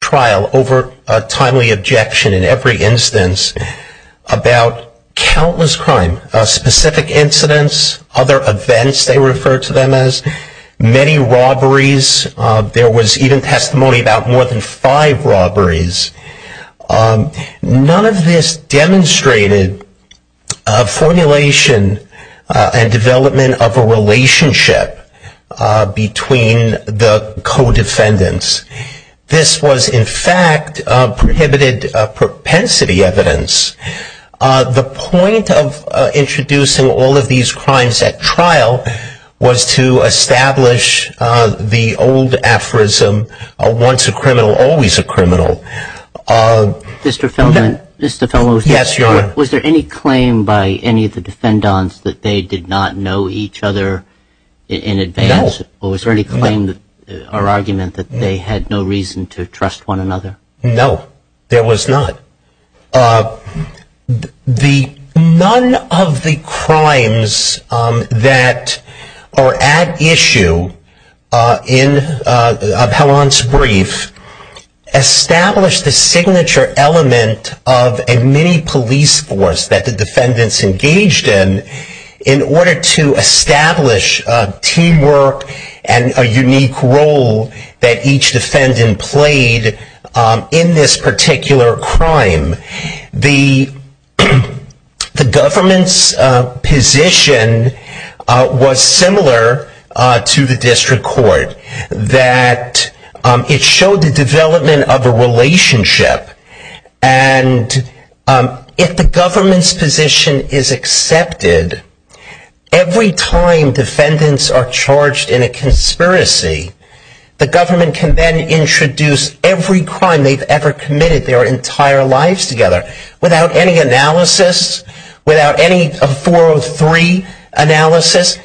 trial over a timely objection in every instance about countless crime, specific incidents, other events they refer to them as, many robberies, there was even testimony about more than five robberies. None of this demonstrated a formulation and development of a relationship between the co-defendants. This was in fact prohibited propensity evidence. The point of introducing all of these crimes at trial was to establish the old aphorism once a criminal always a criminal. Mr. Feldman, was there any claim by any of the defendants that they did not know each other in advance? Or was there any claim or argument that they had no reason to trust one another? No, there was not. None of the crimes that are at issue of Helland's brief established the signature element of a mini police force that the defendants engaged in in order to establish teamwork and a unique role that each defendant played in this particular crime. The government's position was similar to the district court, that it showed the development of a relationship and if the government's position is accepted, every time defendants are charged in a conspiracy, the government can then introduce every crime they've ever committed their entire lives together without any analysis, without any 403 analysis.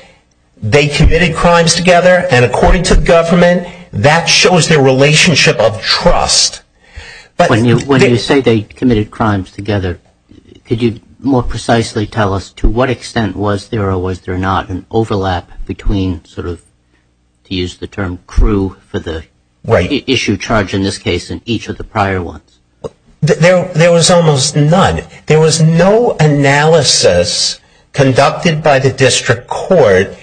They committed crimes together and according to the government, that shows their relationship of trust. When you say they committed crimes together, could you more precisely tell us to what extent was there or was there not an overlap between, to use the term, the issue charged in this case and each of the prior ones? There was almost none. There was no analysis conducted by the district court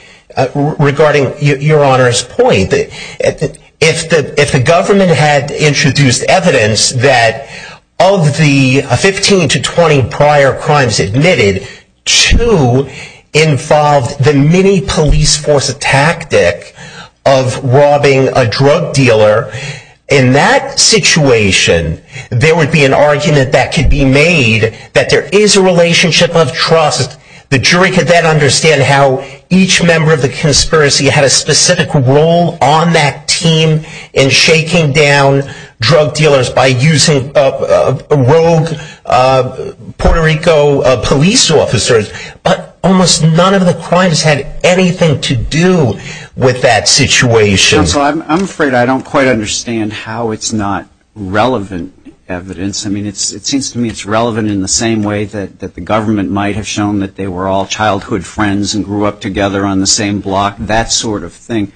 regarding Your Honor's point. If the government had introduced evidence that of the 15 to 20 prior crimes admitted, two involved the mini police force tactic of robbing a drug dealer, in that situation there would be an argument that could be made that there is a relationship of trust. The jury could then understand how each member of the conspiracy had a specific role on that team in shaking down drug dealers by using rogue Puerto Rico police officers, but almost none of the crimes had anything to do with that situation. I'm afraid I don't quite understand how it's not relevant evidence. I mean it seems to me it's relevant in the same way that the government might have shown that they were all childhood friends and grew up together on the same block, that sort of thing.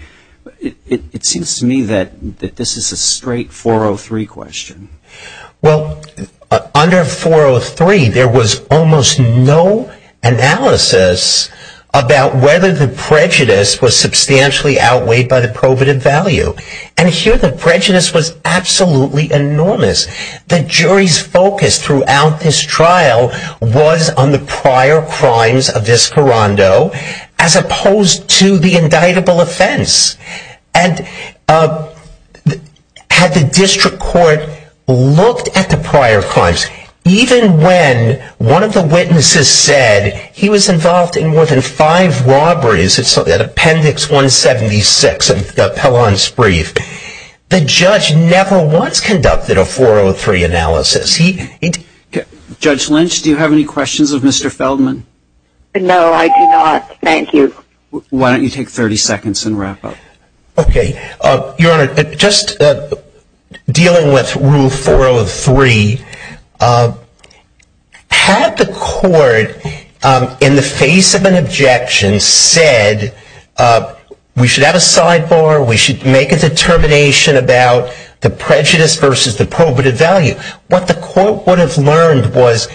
It seems to me that this is a straight 403 question. Well, under 403 there was almost no analysis about whether the prejudice was substantially outweighed by the probative value. And here the prejudice was absolutely enormous. The jury's focus throughout this trial was on the prior crimes of this corondo as opposed to the indictable offense. Had the district court looked at the prior crimes, even when one of the witnesses said he was involved in more than five robberies at Appendix 176 of Pellon's brief, the judge never once conducted a 403 analysis. Judge Lynch, do you have any questions of Mr. Feldman? No, I do not. Thank you. Why don't you take 30 seconds and wrap up. Okay. Your Honor, just dealing with Rule 403, had the court in the face of an objection said we should have a sidebar, we should make a determination about the prejudice versus the probative value, what the court would have learned was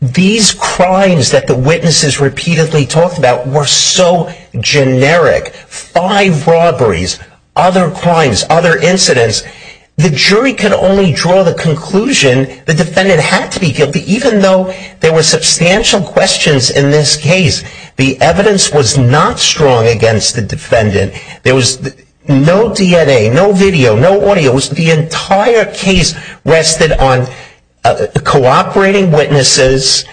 these crimes that the witnesses repeatedly talked about were so generic, five robberies, other crimes, other incidents, the jury could only draw the conclusion the defendant had to be guilty even though there were substantial questions in this case. The evidence was not strong against the defendant. There was no DNA, no video, no audio. It was the entire case rested on cooperating witnesses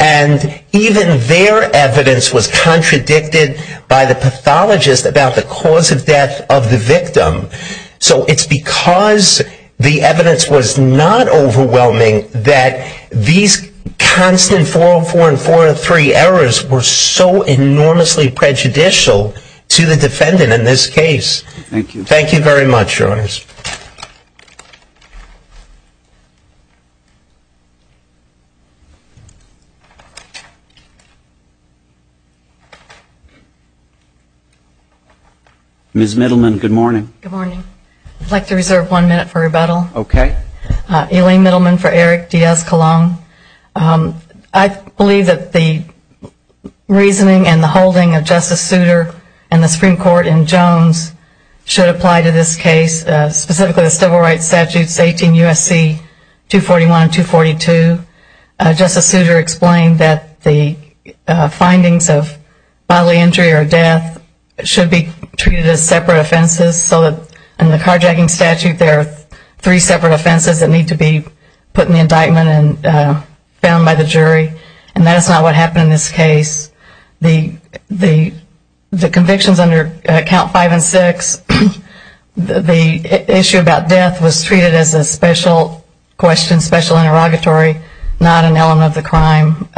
and even their evidence was contradicted by the pathologist about the cause of death of the victim. So it's because the evidence was not overwhelming that these constant 404 and 403 errors were so enormously prejudicial Thank you. Thank you very much, Your Honors. Ms. Middleman, good morning. Good morning. I'd like to reserve one minute for rebuttal. Elaine Middleman for Eric Diaz-Colon. I believe that the reasoning and the holding of Justice Souter and the Supreme Court in Jones should apply to this case, specifically the Civil Rights Statutes 18 U.S.C. 241 and 242. Justice Souter explained that the findings of bodily injury or death should be treated as separate offenses so that in the carjacking statute there are three separate offenses that need to be put in the indictment and found by the jury. And that's not what happened in this case. The convictions under Count 5 and 6, the issue about death was treated as a special question, special interrogatory, not an element of the crime.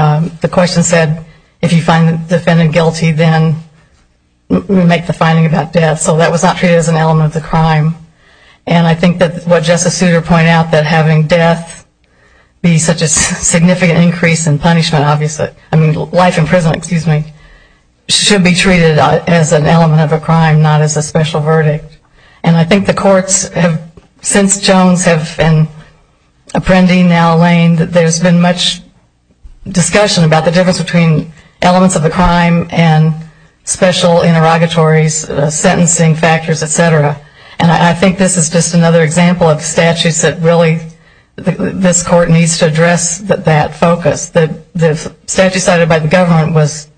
The question said if you find the defendant guilty, then make the finding about death. So that was not treated as an element of the crime. And I think that what Justice Souter pointed out, that having death be such a significant increase in punishment, obviously, I mean life in prison, excuse me, should be treated as an element of a crime, not as a special verdict. And I think the courts have, since Jones have been apprending now Lane, that there's been much discussion about the difference between elements of the crime and special interrogatories, sentencing factors, etc. And I think this is just another example of statutes that really this court needs to address that focus. The statute cited by the government was,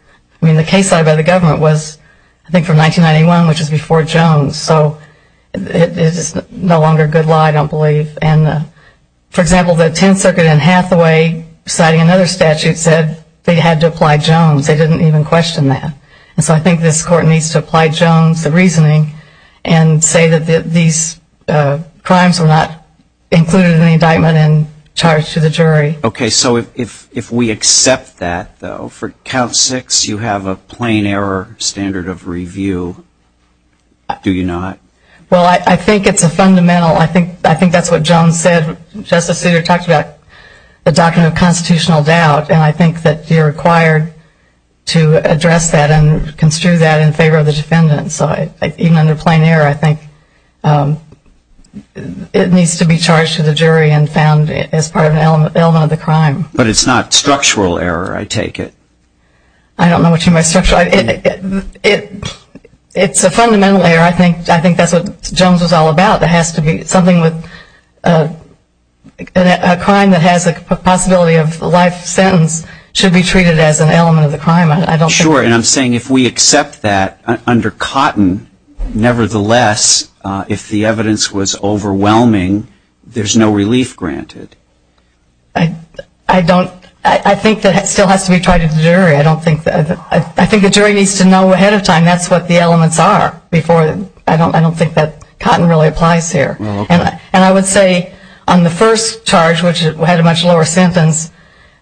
I mean the case cited by the government was I think from 1991, which is before Jones, so it is no longer a good lie, I don't believe. For example, the Tenth Circuit in Hathaway citing another statute said they had to apply Jones. They didn't even question that. And so I think this court needs to apply Jones the reasoning and say that these crimes were not included in the indictment and charged to the jury. Okay, so if we accept that though, for count six you have a plain error standard of review. Do you not? Well, I think it's a fundamental, I think that's what Jones said, Justice Souter talked about the document of constitutional doubt, and I think that you're required to address that and construe that in favor of the defendant. So even under plain error, I think it needs to be charged to the jury and found as part of an element of the crime. But it's not structural error, I take it. I don't know what you mean by structural. It's a fundamental error. I think that's what Jones was all about. There has to be something with a crime that has a possibility of life sentence should be treated as an element of the crime. Sure, and I'm saying if we accept that under Cotton, nevertheless, if the evidence was overwhelming, there's no relief granted. I don't, I think that still has to be tried at the jury. I don't think that, I think the jury needs to know ahead of time that's what the elements are before, I don't think that Cotton really applies here. And I would say on the first charge, which had a much lower sentence,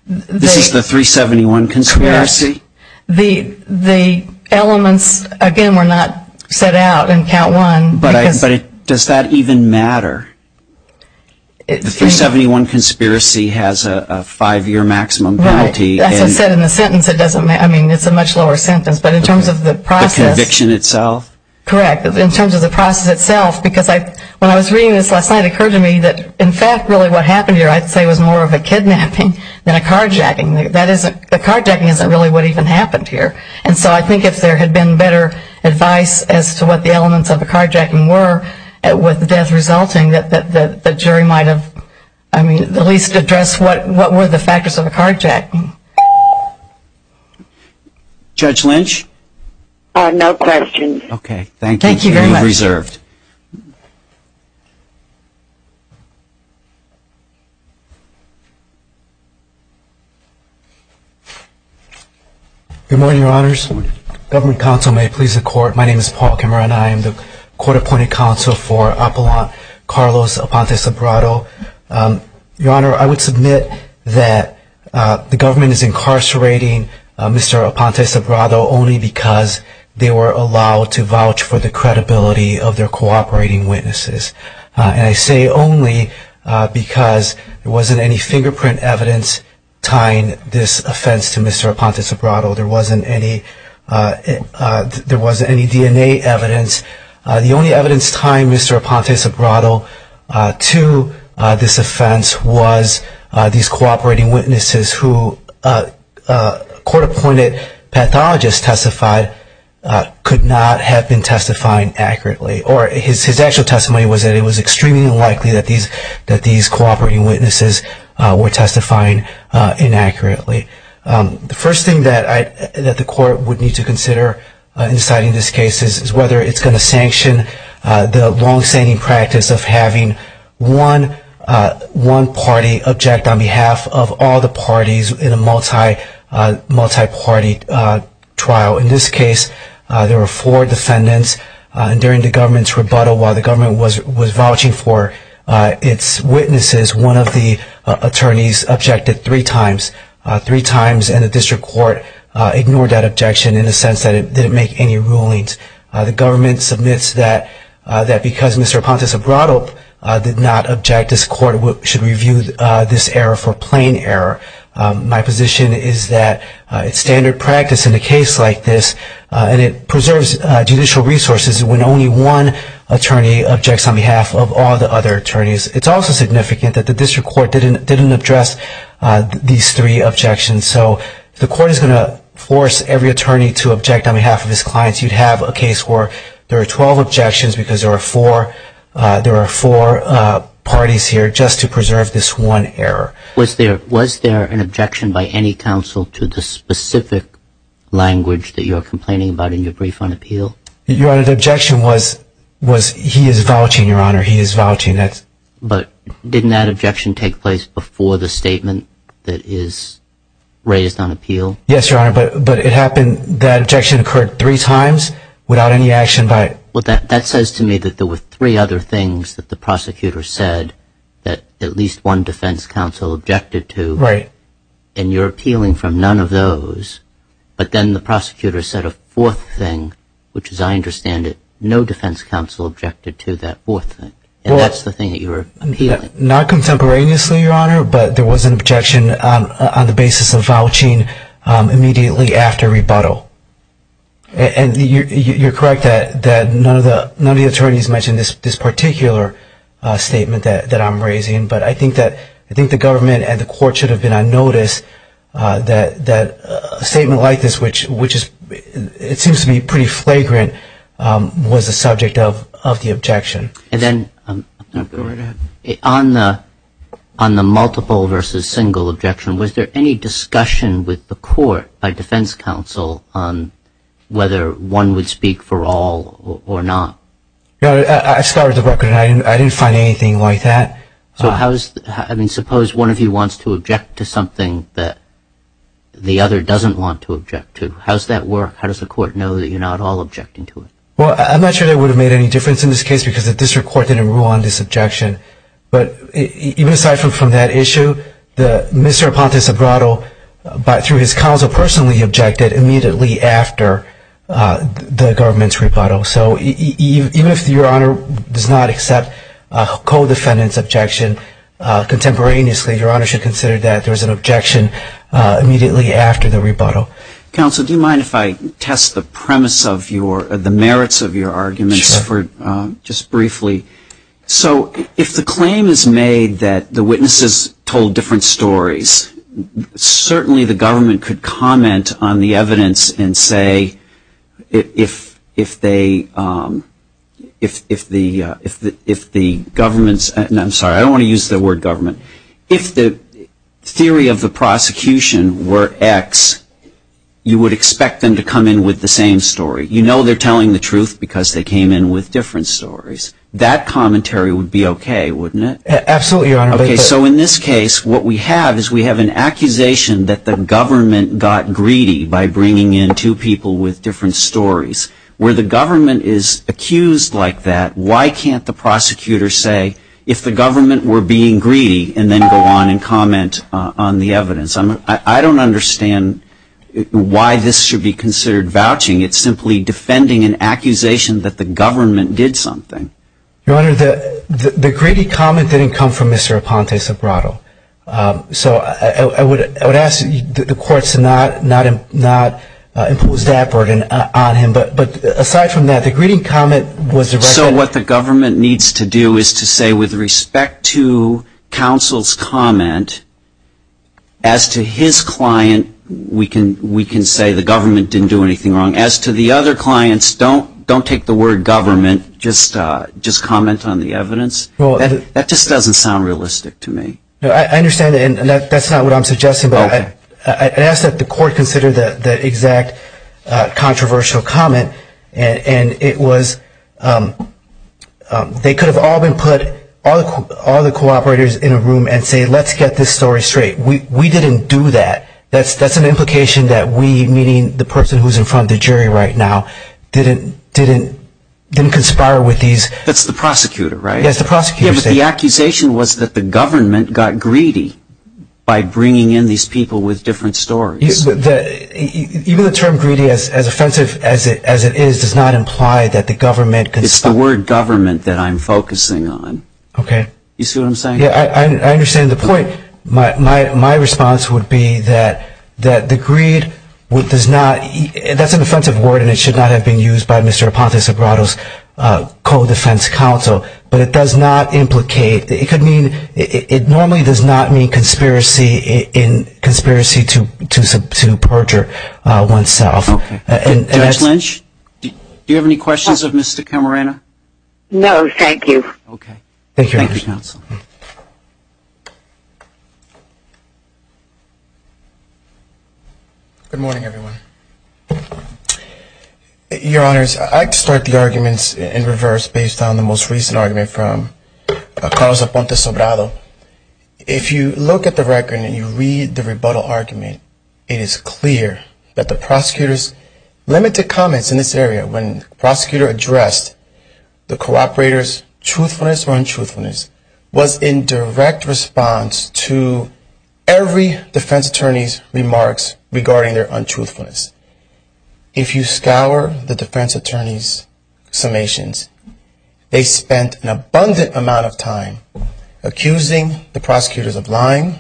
This is the 371 conspiracy? The elements, again, were not set out in count one. But does that even matter? The 371 conspiracy has a five-year maximum penalty. Right. As I said in the sentence, it doesn't matter. I mean, it's a much lower sentence. But in terms of the process. The conviction itself? Correct. In terms of the process itself, because when I was reading this last night, it occurred to me that, in fact, really what happened here, I'd say, was more of a kidnapping than a carjacking. The carjacking isn't really what even happened here. And so I think if there had been better advice as to what the elements of the carjacking were with the death resulting, that the jury might have at least addressed what were the factors of the carjacking. Judge Lynch? No questions. Okay. Thank you. You're reserved. Good morning, Your Honors. Government counsel, may it please the Court. My name is Paul Kimmerer and I am the Court Appointed Counsel for Apollon Carlos Aponte-Sobrado. Your Honor, I would submit that the government is incarcerating Mr. Aponte-Sobrado only because they were allowed to vouch for the credibility of their cooperating witnesses. And I say only because there wasn't any fingerprint evidence tying this offense to Mr. Aponte-Sobrado. There wasn't any DNA evidence The only evidence tying Mr. Aponte-Sobrado to this offense was these cooperating witnesses who court-appointed pathologists testified could not have been testifying accurately. Or his actual testimony was that it was extremely unlikely that these cooperating witnesses were testifying inaccurately. The first thing that the Court would need to consider in deciding this case is whether it's going to sanction the longstanding practice of having one party object on behalf of all the parties in a multi-party trial. In this case, there were four defendants and during the government's rebuttal, while the government was vouching for its witnesses, one of the attorneys objected three times. And the District Court ignored that objection in the sense that it didn't make any rulings. The government submits that because Mr. Aponte-Sobrado did not object, this Court should review this error for plain error. My position is that it's standard practice in a case like this and it preserves judicial resources when only one attorney objects on behalf of all the other attorneys. It's also significant that the District Court didn't address these three objections. If the Court is going to force every attorney to object on behalf of his clients, you'd have a case where there are 12 objections because there are four parties here just to preserve this one error. Was there an objection by any counsel to the specific language that you were complaining about in your brief on appeal? Your Honor, the objection was, he is vouching, Your Honor, he is vouching. But didn't that objection take place before the statement that is raised on appeal? Yes, Your Honor, but that objection occurred three times without any action by... That says to me that there were three other things that the prosecutor said that at least one defense counsel objected to and you're appealing from none of those but then the prosecutor said a fourth thing which, as I understand it, no defense counsel objected to that fourth thing and that's the thing that you were appealing. Not contemporaneously, Your Honor, but there was an objection on the basis of vouching immediately after rebuttal. You're correct that none of the attorneys mentioned this particular statement that I'm raising but I think the government and the Court should have been notice that a statement like this which seems to be pretty flagrant was the subject of the objection. And then, Your Honor, on the multiple versus single objection was there any discussion with the Court by defense counsel on whether one would speak for all or not? I started the record and I didn't find anything like that. So suppose one of you wants to object to something that the other doesn't want to object to. How does that work? How does the Court know that you're not all objecting to it? Well, I'm not sure that would have made any difference in this case because the District Court didn't rule on this objection but even aside from that issue, Mr. Aponte-Sobrato, through his counsel, personally objected immediately after the government's rebuttal. So even if Your Honor does not accept a co-defendant's objection contemporaneously, Your Honor should consider that there was an objection immediately after the rebuttal. Counsel, do you mind if I test the merits of your arguments just briefly? So, if the claim is made that the witnesses told different stories, certainly the government could comment on the evidence and say if the government's I'm sorry, I don't want to use the word government. If the theory of the prosecution were X, you would expect them to come in with the same story. You know they're telling the truth because they came in with different stories. That commentary would be okay, wouldn't it? Absolutely, Your Honor. So in this case, what we have is we have an accusation that the government got greedy by bringing in two people with different stories. Where the government is accused like that, why can't the prosecutor say if the government were being greedy and then go on and comment on the evidence? I don't understand why this should be considered vouching. It's simply defending an accusation that the government did something. Your Honor, the greedy comment didn't come from Mr. Aponte-Sobrato. So I would ask the courts to not impose that burden on him. But aside from that, the greedy comment was directed... So what the government needs to do is to say with respect to counsel's comment, as to his client, we can say the government didn't do anything wrong. As to the other clients, don't take the word government, just comment on the evidence. That just doesn't sound realistic to me. I understand, and that's not what I'm suggesting, but I'd ask that the court consider the exact controversial comment. They could have all been put, all the cooperators in a room and say let's get this story straight. We didn't do that. That's an implication that we, meaning the person who's in front of the jury right now, didn't conspire with these... That's the prosecutor, right? The accusation was that the government got greedy by bringing in these people with different stories. Even the term greedy, as offensive as it is, does not imply that the government... It's the word government that I'm focusing on. You see what I'm saying? I understand the point. My response would be that the greed does not... It does not implicate... It normally does not mean conspiracy to perjure oneself. Judge Lynch? Do you have any questions of Mr. Camarena? No, thank you. Thank you, counsel. Good morning, everyone. Your Honors, I'd like to start the arguments in reverse based on the most recent argument from Carlos Aponte Sobrado. If you look at the record and you read the rebuttal argument, it is clear that the prosecutor's limited comments in this area when the prosecutor addressed the cooperator's truthfulness or untruthfulness was in direct response to every defense attorney's remarks regarding their untruthfulness. If you scour the defense attorney's summations, they spent an abundant amount of time accusing the prosecutors of lying,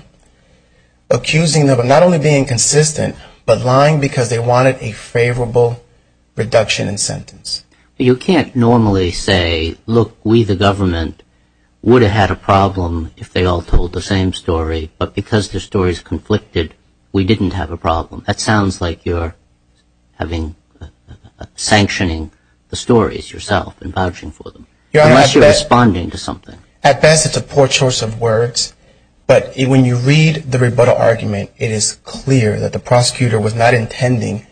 accusing them of not only being inconsistent, but lying because they wanted a favorable reduction in sentence. You can't normally say, look, we the government would have had a problem if they all told the same story, but because their stories conflicted, we didn't have a problem. That sounds like you're having... At best, it's a poor choice of words, but when you read the rebuttal argument, it is clear that the prosecutor was not intending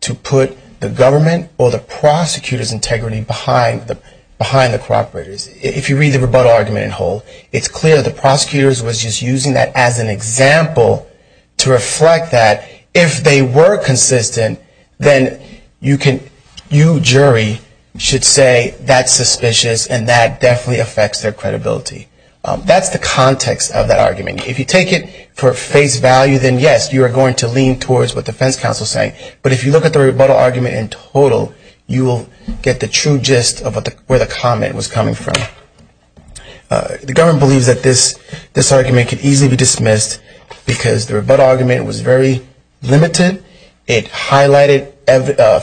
to put the government or the prosecutor's integrity behind the cooperators. If you read the rebuttal argument in whole, it's clear the prosecutor was just using that as an example to reflect that if they were consistent, then you jury should say that that's suspicious and that definitely affects their credibility. That's the context of that argument. If you take it for face value, then yes, you are going to lean towards what the defense counsel is saying, but if you look at the rebuttal argument in total, you will get the true gist of where the comment was coming from. The government believes that this argument could easily be dismissed because the rebuttal argument was very limited. It highlighted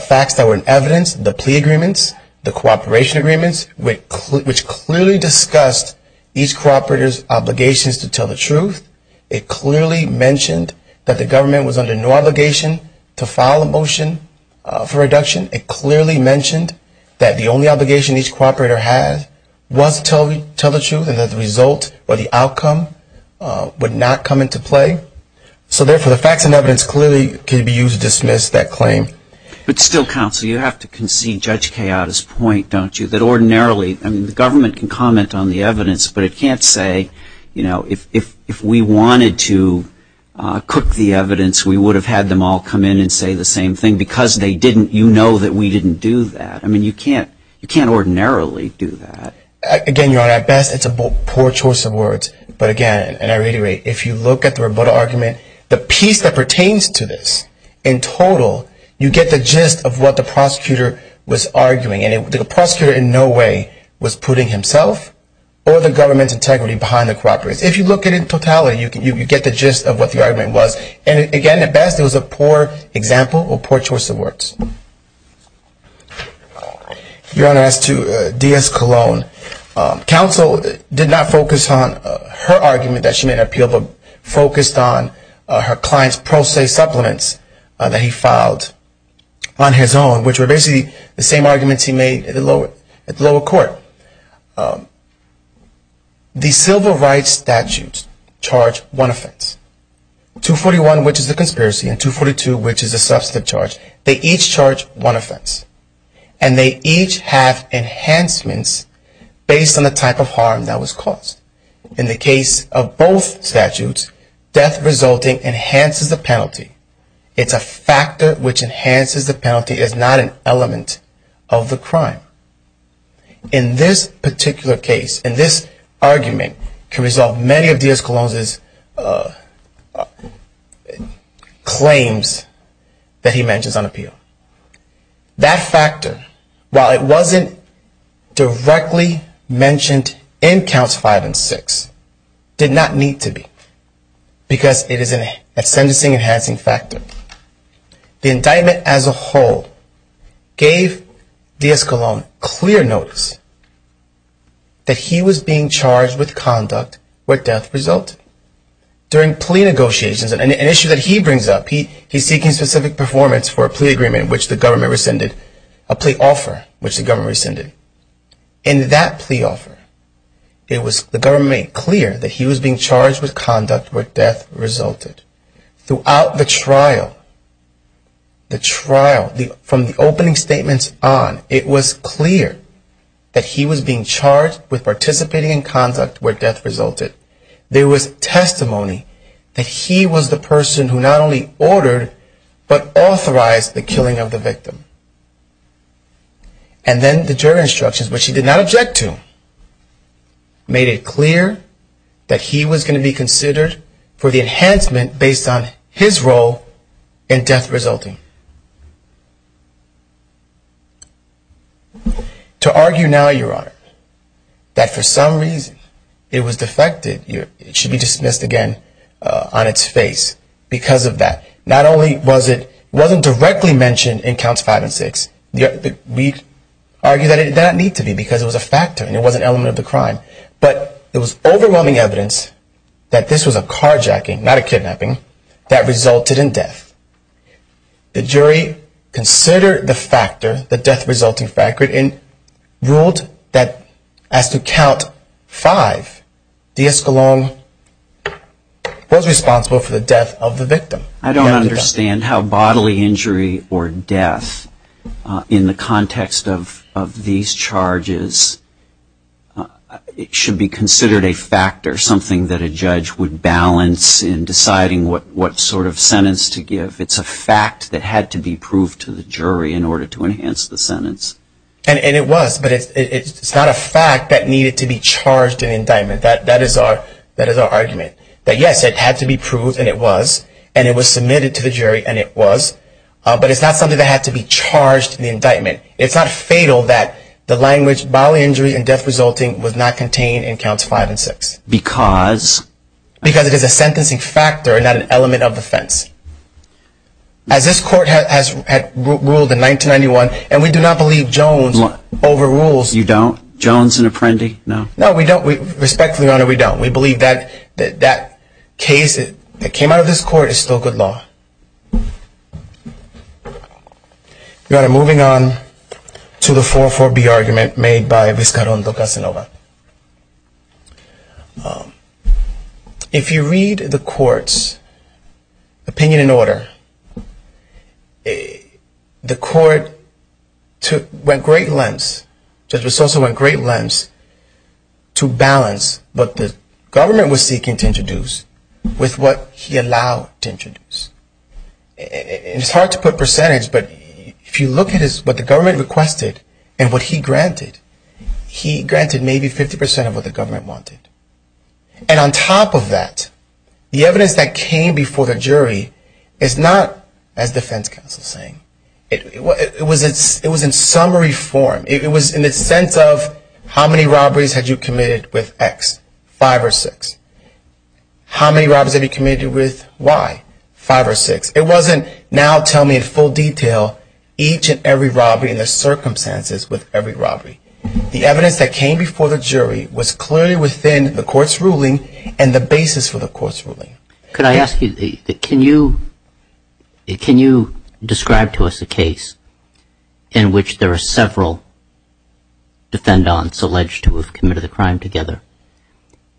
facts that were in evidence, the plea agreements, the cooperation agreements, which clearly discussed each cooperator's obligations to tell the truth. It clearly mentioned that the government was under no obligation to file a motion for reduction. It clearly mentioned that the only obligation each cooperator had was to tell the truth and that the result or the outcome would not come into play. So therefore, the facts and evidence clearly can be used to dismiss that claim. But still, counsel, you have to concede Judge Kayotta's point, don't you, that ordinarily the government can comment on the evidence, but it can't say, you know, if we wanted to cook the evidence, we would have had them all come in and say the same thing because you know that we didn't do that. I mean, you can't ordinarily do that. Again, Your Honor, at best it's a poor choice of words, but again, and I reiterate, if you look at the rebuttal argument, and the piece that pertains to this in total, you get the gist of what the prosecutor was arguing. And the prosecutor in no way was putting himself or the government's integrity behind the cooperators. If you look at it in totality, you get the gist of what the argument was. And again, at best it was a poor example or poor choice of words. Your Honor, as to D.S. Cologne, counsel did not focus on her argument that she made an appeal, but focused on her argument that she made an appeal or her client's pro se supplements that he filed on his own, which were basically the same arguments he made at the lower court. The civil rights statutes charge one offense. 241, which is the conspiracy, and 242, which is the substantive charge, they each charge one offense. And they each have enhancements based on the type of harm that was caused. In the case of both statutes, death resulting enhances the penalty. It's a factor which enhances the penalty. It's not an element of the crime. In this particular case, in this argument, can resolve many of D.S. Cologne's claims that he mentions on appeal. That factor, while it wasn't directly mentioned in Counts 5 and 6, did not need to be because it is a sentencing enhancing factor. The indictment as a whole gave D.S. Cologne clear notice that he was being charged with conduct where death resulted. During plea negotiations, an issue that he brings up, he's seeking specific performance for a plea offer which the government rescinded. In that plea offer, the government made clear that he was being charged with conduct where death resulted. Throughout the trial, the trial, from the opening statements on, it was clear that he was being charged with participating in conduct where death resulted. There was testimony that he was the person who not only ordered but authorized the killing of the victim. And then the jury instructions, which he did not object to, made it clear that he was going to be considered for the enhancement based on his role in death resulting. To argue now, Your Honor, that for some reason it was defected, it should be dismissed again on its face because of that. Not only was it, it wasn't directly mentioned in counts five and six. We argue that it did not need to be because it was a factor and it was an element of the crime, but it was overwhelming evidence that this was a carjacking, not a kidnapping, that resulted in death. The jury considered the factor, the death resulting factor and ruled that as to count five, D.S. Cologne was responsible for the death of the victim. I don't understand how bodily injury or death in the context of these charges, it should be considered a factor, something that a judge would balance in deciding what sort of sentence to give. It's a fact that had to be proved to the jury in order to enhance the sentence. And it was, but it's not a fact that needed to be charged in indictment. That is our argument, that yes, it had to be proved and it was and it was submitted to the jury and it was, but it's not something that had to be charged in the indictment. It's not fatal that the language bodily injury and death resulting was not contained in counts five and six. Because it is a sentencing factor and not an element of offense. As this court had ruled in 1991 and we do not believe Jones overrules. You don't? Jones an apprentice? No. Respectfully Your Honor, we don't. We believe that case that came out of this court is still good law. Your Honor, moving on to the 4-4-B argument made by Viscarondo Casanova. If you read the court's opinion in order, the court went great lengths, Judge Viscoso went great lengths to balance what the government was seeking to introduce with what he allowed to introduce. It's hard to put percentage, but if you look at what the government requested and what he granted, he granted maybe 50% of what the government wanted. And on top of that, the evidence that came before the jury is not, as defense counsel is saying, it was in summary form. It was in the sense of how many robberies had you committed with X? Five or six. How many robberies have you committed with Y? Five or six. It wasn't now tell me in full detail each and every robbery and the circumstances with every robbery. The evidence that came before the jury was clearly within the court's ruling and the basis for the court's ruling. Can I ask you, can you describe to us a case in which there are several defendants alleged to have committed a crime together,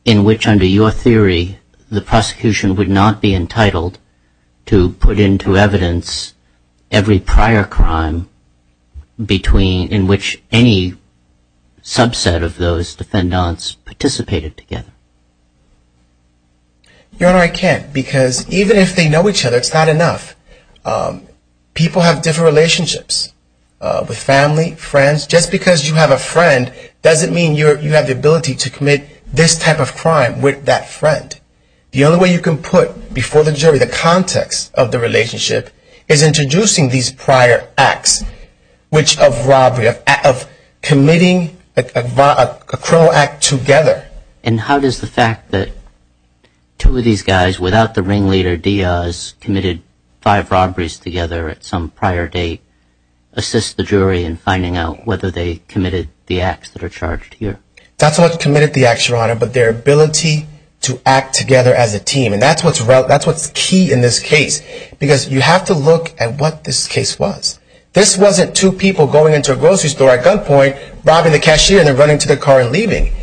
in which under your theory the prosecution would not be entitled to put into evidence every prior crime in which any subset of those defendants participated together? Your Honor, I can't, because even if they know each other, it's not enough. People have different relationships. With family, friends. Just because you have a friend doesn't mean you have the ability to commit this type of crime with that friend. The only way you can put before the jury the context of the relationship is introducing these prior acts, which of robbery, of committing a criminal act together. And how does the fact that two of these guys without the ringleader Diaz committed five robberies together at some prior date assist the jury in finding out whether they committed the acts that are charged here? That's what committed the acts, Your Honor, but their ability to act together as a team. And that's what's key in this case. Because you have to look at what this case was. This wasn't two people going into a grocery store at gunpoint, robbing the cashier and then running to their car and leaving.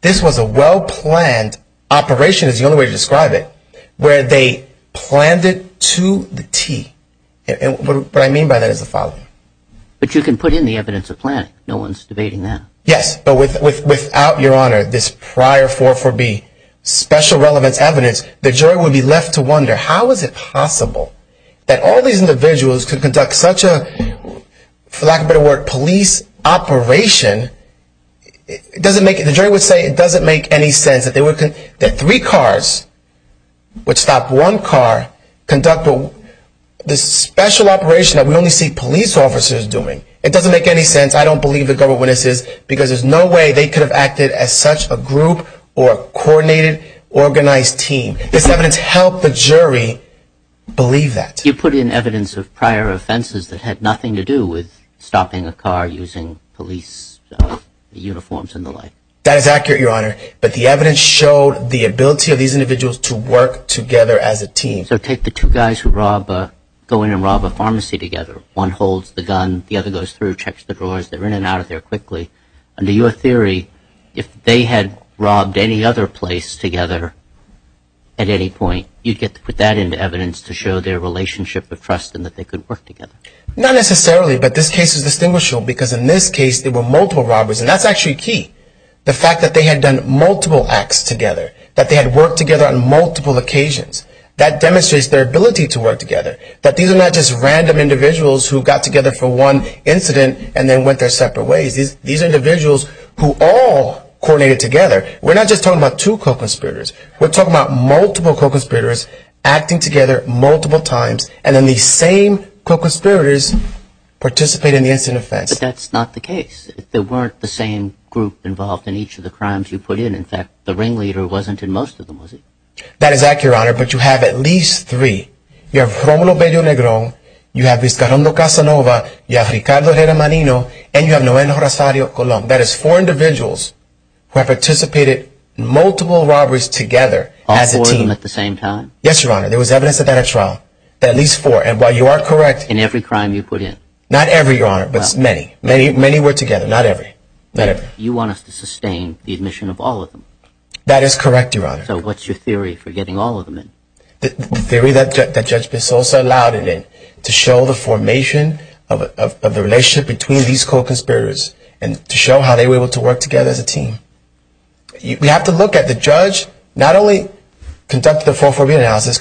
This was a well-planned operation, is the only way to describe it, where they planned it to the T. What I mean by that is the following. But you can put in the evidence of planning. No one's debating that. Yes, but without, Your Honor, this prior 444B special relevance evidence, the jury would be left to wonder, how is it possible that all these individuals could conduct such a, for lack of a better word, a police operation? The jury would say it doesn't make any sense that three cars would stop one car conduct this special operation that we only see police officers doing. It doesn't make any sense. I don't believe the government witnesses because there's no way they could have acted as such a group or coordinated, organized team. This evidence helped the jury believe that. You put in evidence of prior offenses that had nothing to do with stopping a car using police uniforms and the like. That is accurate, Your Honor, but the evidence showed the ability of these individuals to work together as a team. So take the two guys who go in and rob a pharmacy together. One holds the gun, the other goes through, checks the drawers. They're in and out of there quickly. Under your theory, if they had robbed any other place together at any point, you'd get to put that into evidence to show their relationship of trust and that they could work together. Not necessarily, but this case is distinguishable because in this case there were multiple robberies, and that's actually key. The fact that they had done multiple acts together, that they had worked together on multiple occasions, that demonstrates their ability to work together. These are not just random individuals who got together for one incident and then went their separate ways. These are individuals who all coordinated together. We're not just talking about two co-conspirators. We're talking about multiple co-conspirators acting together multiple times, and then these same co-conspirators participate in the incident offense. But that's not the case. There weren't the same group involved in each of the crimes you put in. In fact, the ringleader wasn't in most of them, was he? That is accurate, Your Honor, but you have at least three. You have Romulo Bello Negro, you have Viscarondo Casanova, you have Ricardo Germanino, and you have Noel Rosario Colón. That is four individuals who have participated in multiple robberies together as a team. All four of them at the same time? Yes, Your Honor. There was evidence of that at trial. At least four. And while you are correct... In every crime you put in? Not every, Your Honor, but many. Many were together, not every. You want us to sustain the admission of all of them? That is correct, Your Honor. So what's your theory for getting all of them in? The theory that Judge Pesoso allowed it in, to show the formation of the relationship between these co-conspirators, and to show how they were able to work together as a team. We have to look at the judge, not only conducted the 403 analysis...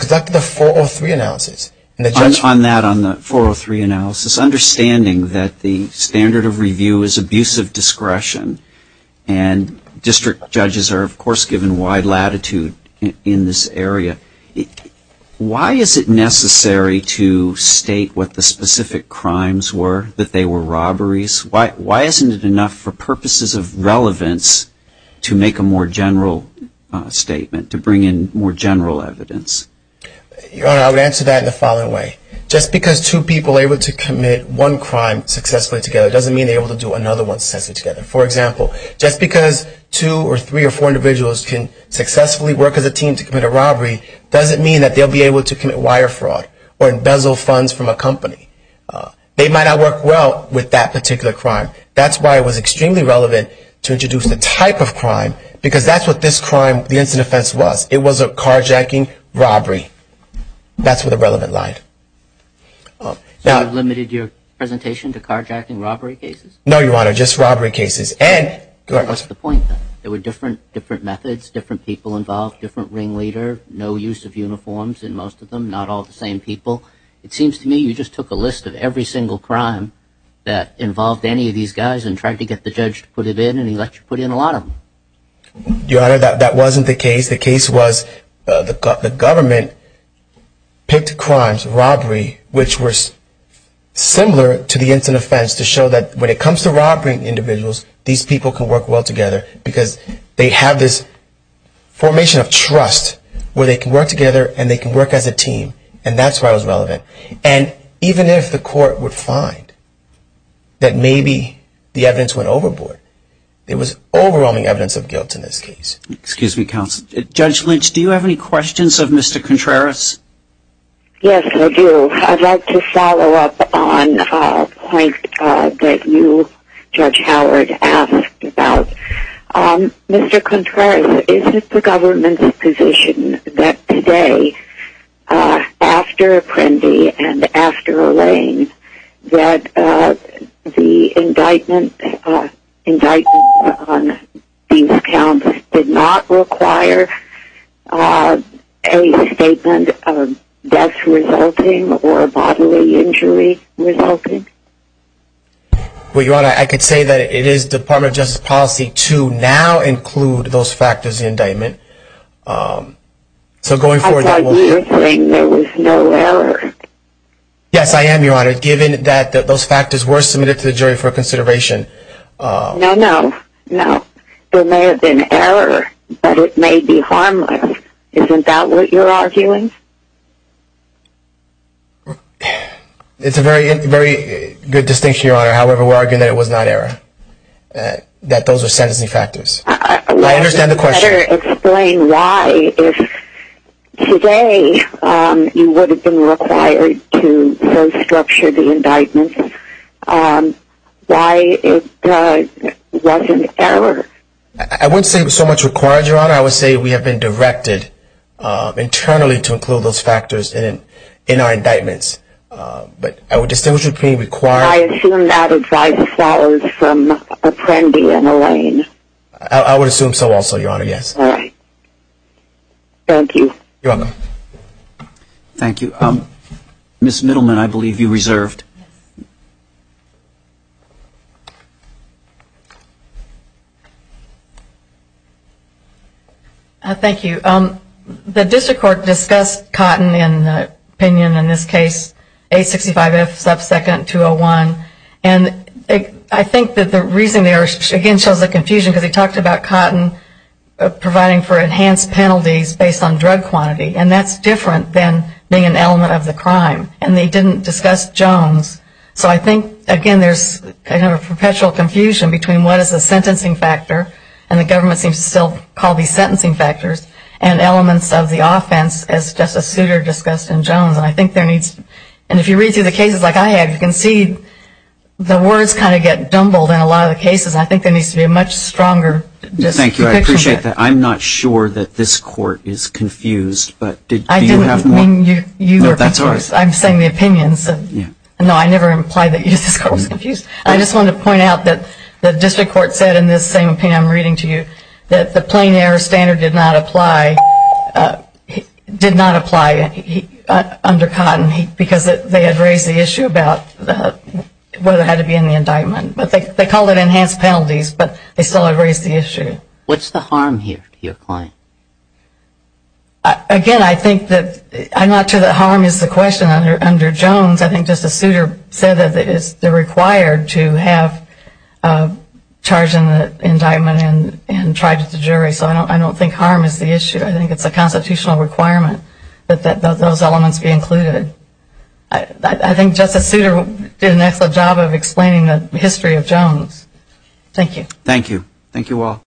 On that, on the 403 analysis, understanding that the standard of review is abusive discretion, and district judges are, of course, given wide latitude in this area, why is it necessary to state what the specific crimes were, that they were robberies? Why isn't it enough for purposes of this case to state that? Why isn't it enough for purposes of relevance to make a more general statement, to bring in more general evidence? Your Honor, I would answer that in the following way. Just because two people are able to commit one crime successfully together, doesn't mean they are able to do another one successfully together. For example, just because two or three or four individuals can successfully work as a team to commit a robbery, doesn't mean that they'll be able to commit wire fraud, or embezzle funds from a company. They might not work well with that particular crime. That's why it was extremely relevant to introduce the type of crime, because that's what this crime, the incident offense was. It was a carjacking robbery. That's where the relevance lies. So you've limited your presentation to carjacking robbery cases? No, Your Honor, just robbery cases. And... You know, I've read a lot of the columns in most of them, not all the same people. It seems to me you just took a list of every single crime that involved any of these guys and tried to get the judge to put it in, and he let you put in a lot of them. Your Honor, that wasn't the case. The case was the government picked crimes, robbery, which were similar to the incident offense to show that when it comes to robbing individuals, these people can work well together, because they have this formation of trust where they can work together and they can work as a team. And that's why it was relevant. And even if the court would find that maybe the evidence went overboard, it was overwhelming evidence of guilt in this case. Excuse me, counsel. Judge Lynch, do you have any questions of Mr. Contreras? Yes, I do. I'd like to follow up on a point that you, Mr. Contreras, is it the government's position that today, after Apprendi and after Olayne, that the indictment on these counts did not require a statement of death resulting or bodily injury resulting? Well, Your Honor, I could say that it is Department of Justice policy to now include those factors in the indictment. So going forward... I thought you were saying there was no error. Yes, I am, Your Honor. Given that those factors were submitted to the jury for consideration... No, no, no. There may have been error, but it may be harmless. Isn't that what you're arguing? It's a very good distinction, Your Honor. However, we're arguing that it was not error, that those are separate factors. I understand the question. I'd rather explain why, if today, you would have been required to restructure the indictment, why it wasn't error. I wouldn't say it was so much required, Your Honor. I would say we have been directed internally to include those factors in our indictments. But I would distinguish between required... I assume that advice follows from Apprendi and Olayne. I would assume so also, Your Honor, yes. All right. Thank you. You're welcome. Thank you. Ms. Middleman, I believe you reserved. Thank you. The district court discussed Cotton in the opinion, in this case, 865F sub second 201. And I think that the reason there, again, shows the confusion because he talked about Cotton providing for enhanced penalties based on drug quantity. And that's different than being an element of the crime. And they didn't discuss Jones. So I think, again, there's a perpetual confusion between what is a sentencing factor, and the government seems to still call these sentencing factors, and elements of the offense as Justice Souter discussed in Jones. And I think there needs... And if you read through the cases like I have, you can see the words kind of get dumbled in a lot of the cases. And I think there needs to be a much stronger depiction of that. Thank you. I appreciate that. I'm not sure that this court is confused, but do you have more... I didn't mean you were confused. I'm saying the opinions. No, I never implied that this court was confused. I just wanted to point out that the district court said in this same opinion I'm reading to you that the plain error standard did not apply under Cotton because they had raised the issue about whether it had to be in the indictment. But they called it enhanced penalties, but they still had raised the issue. What's the harm here to your client? Again, I think that... I'm not sure that harm is the question under Jones. I think Justice Souter said that they're required to have a charge in the indictment and tried at the jury. So I don't think harm is the issue. I think it's a constitutional requirement that those elements be included. I think Justice Souter did an excellent job of explaining the history of Jones. Thank you.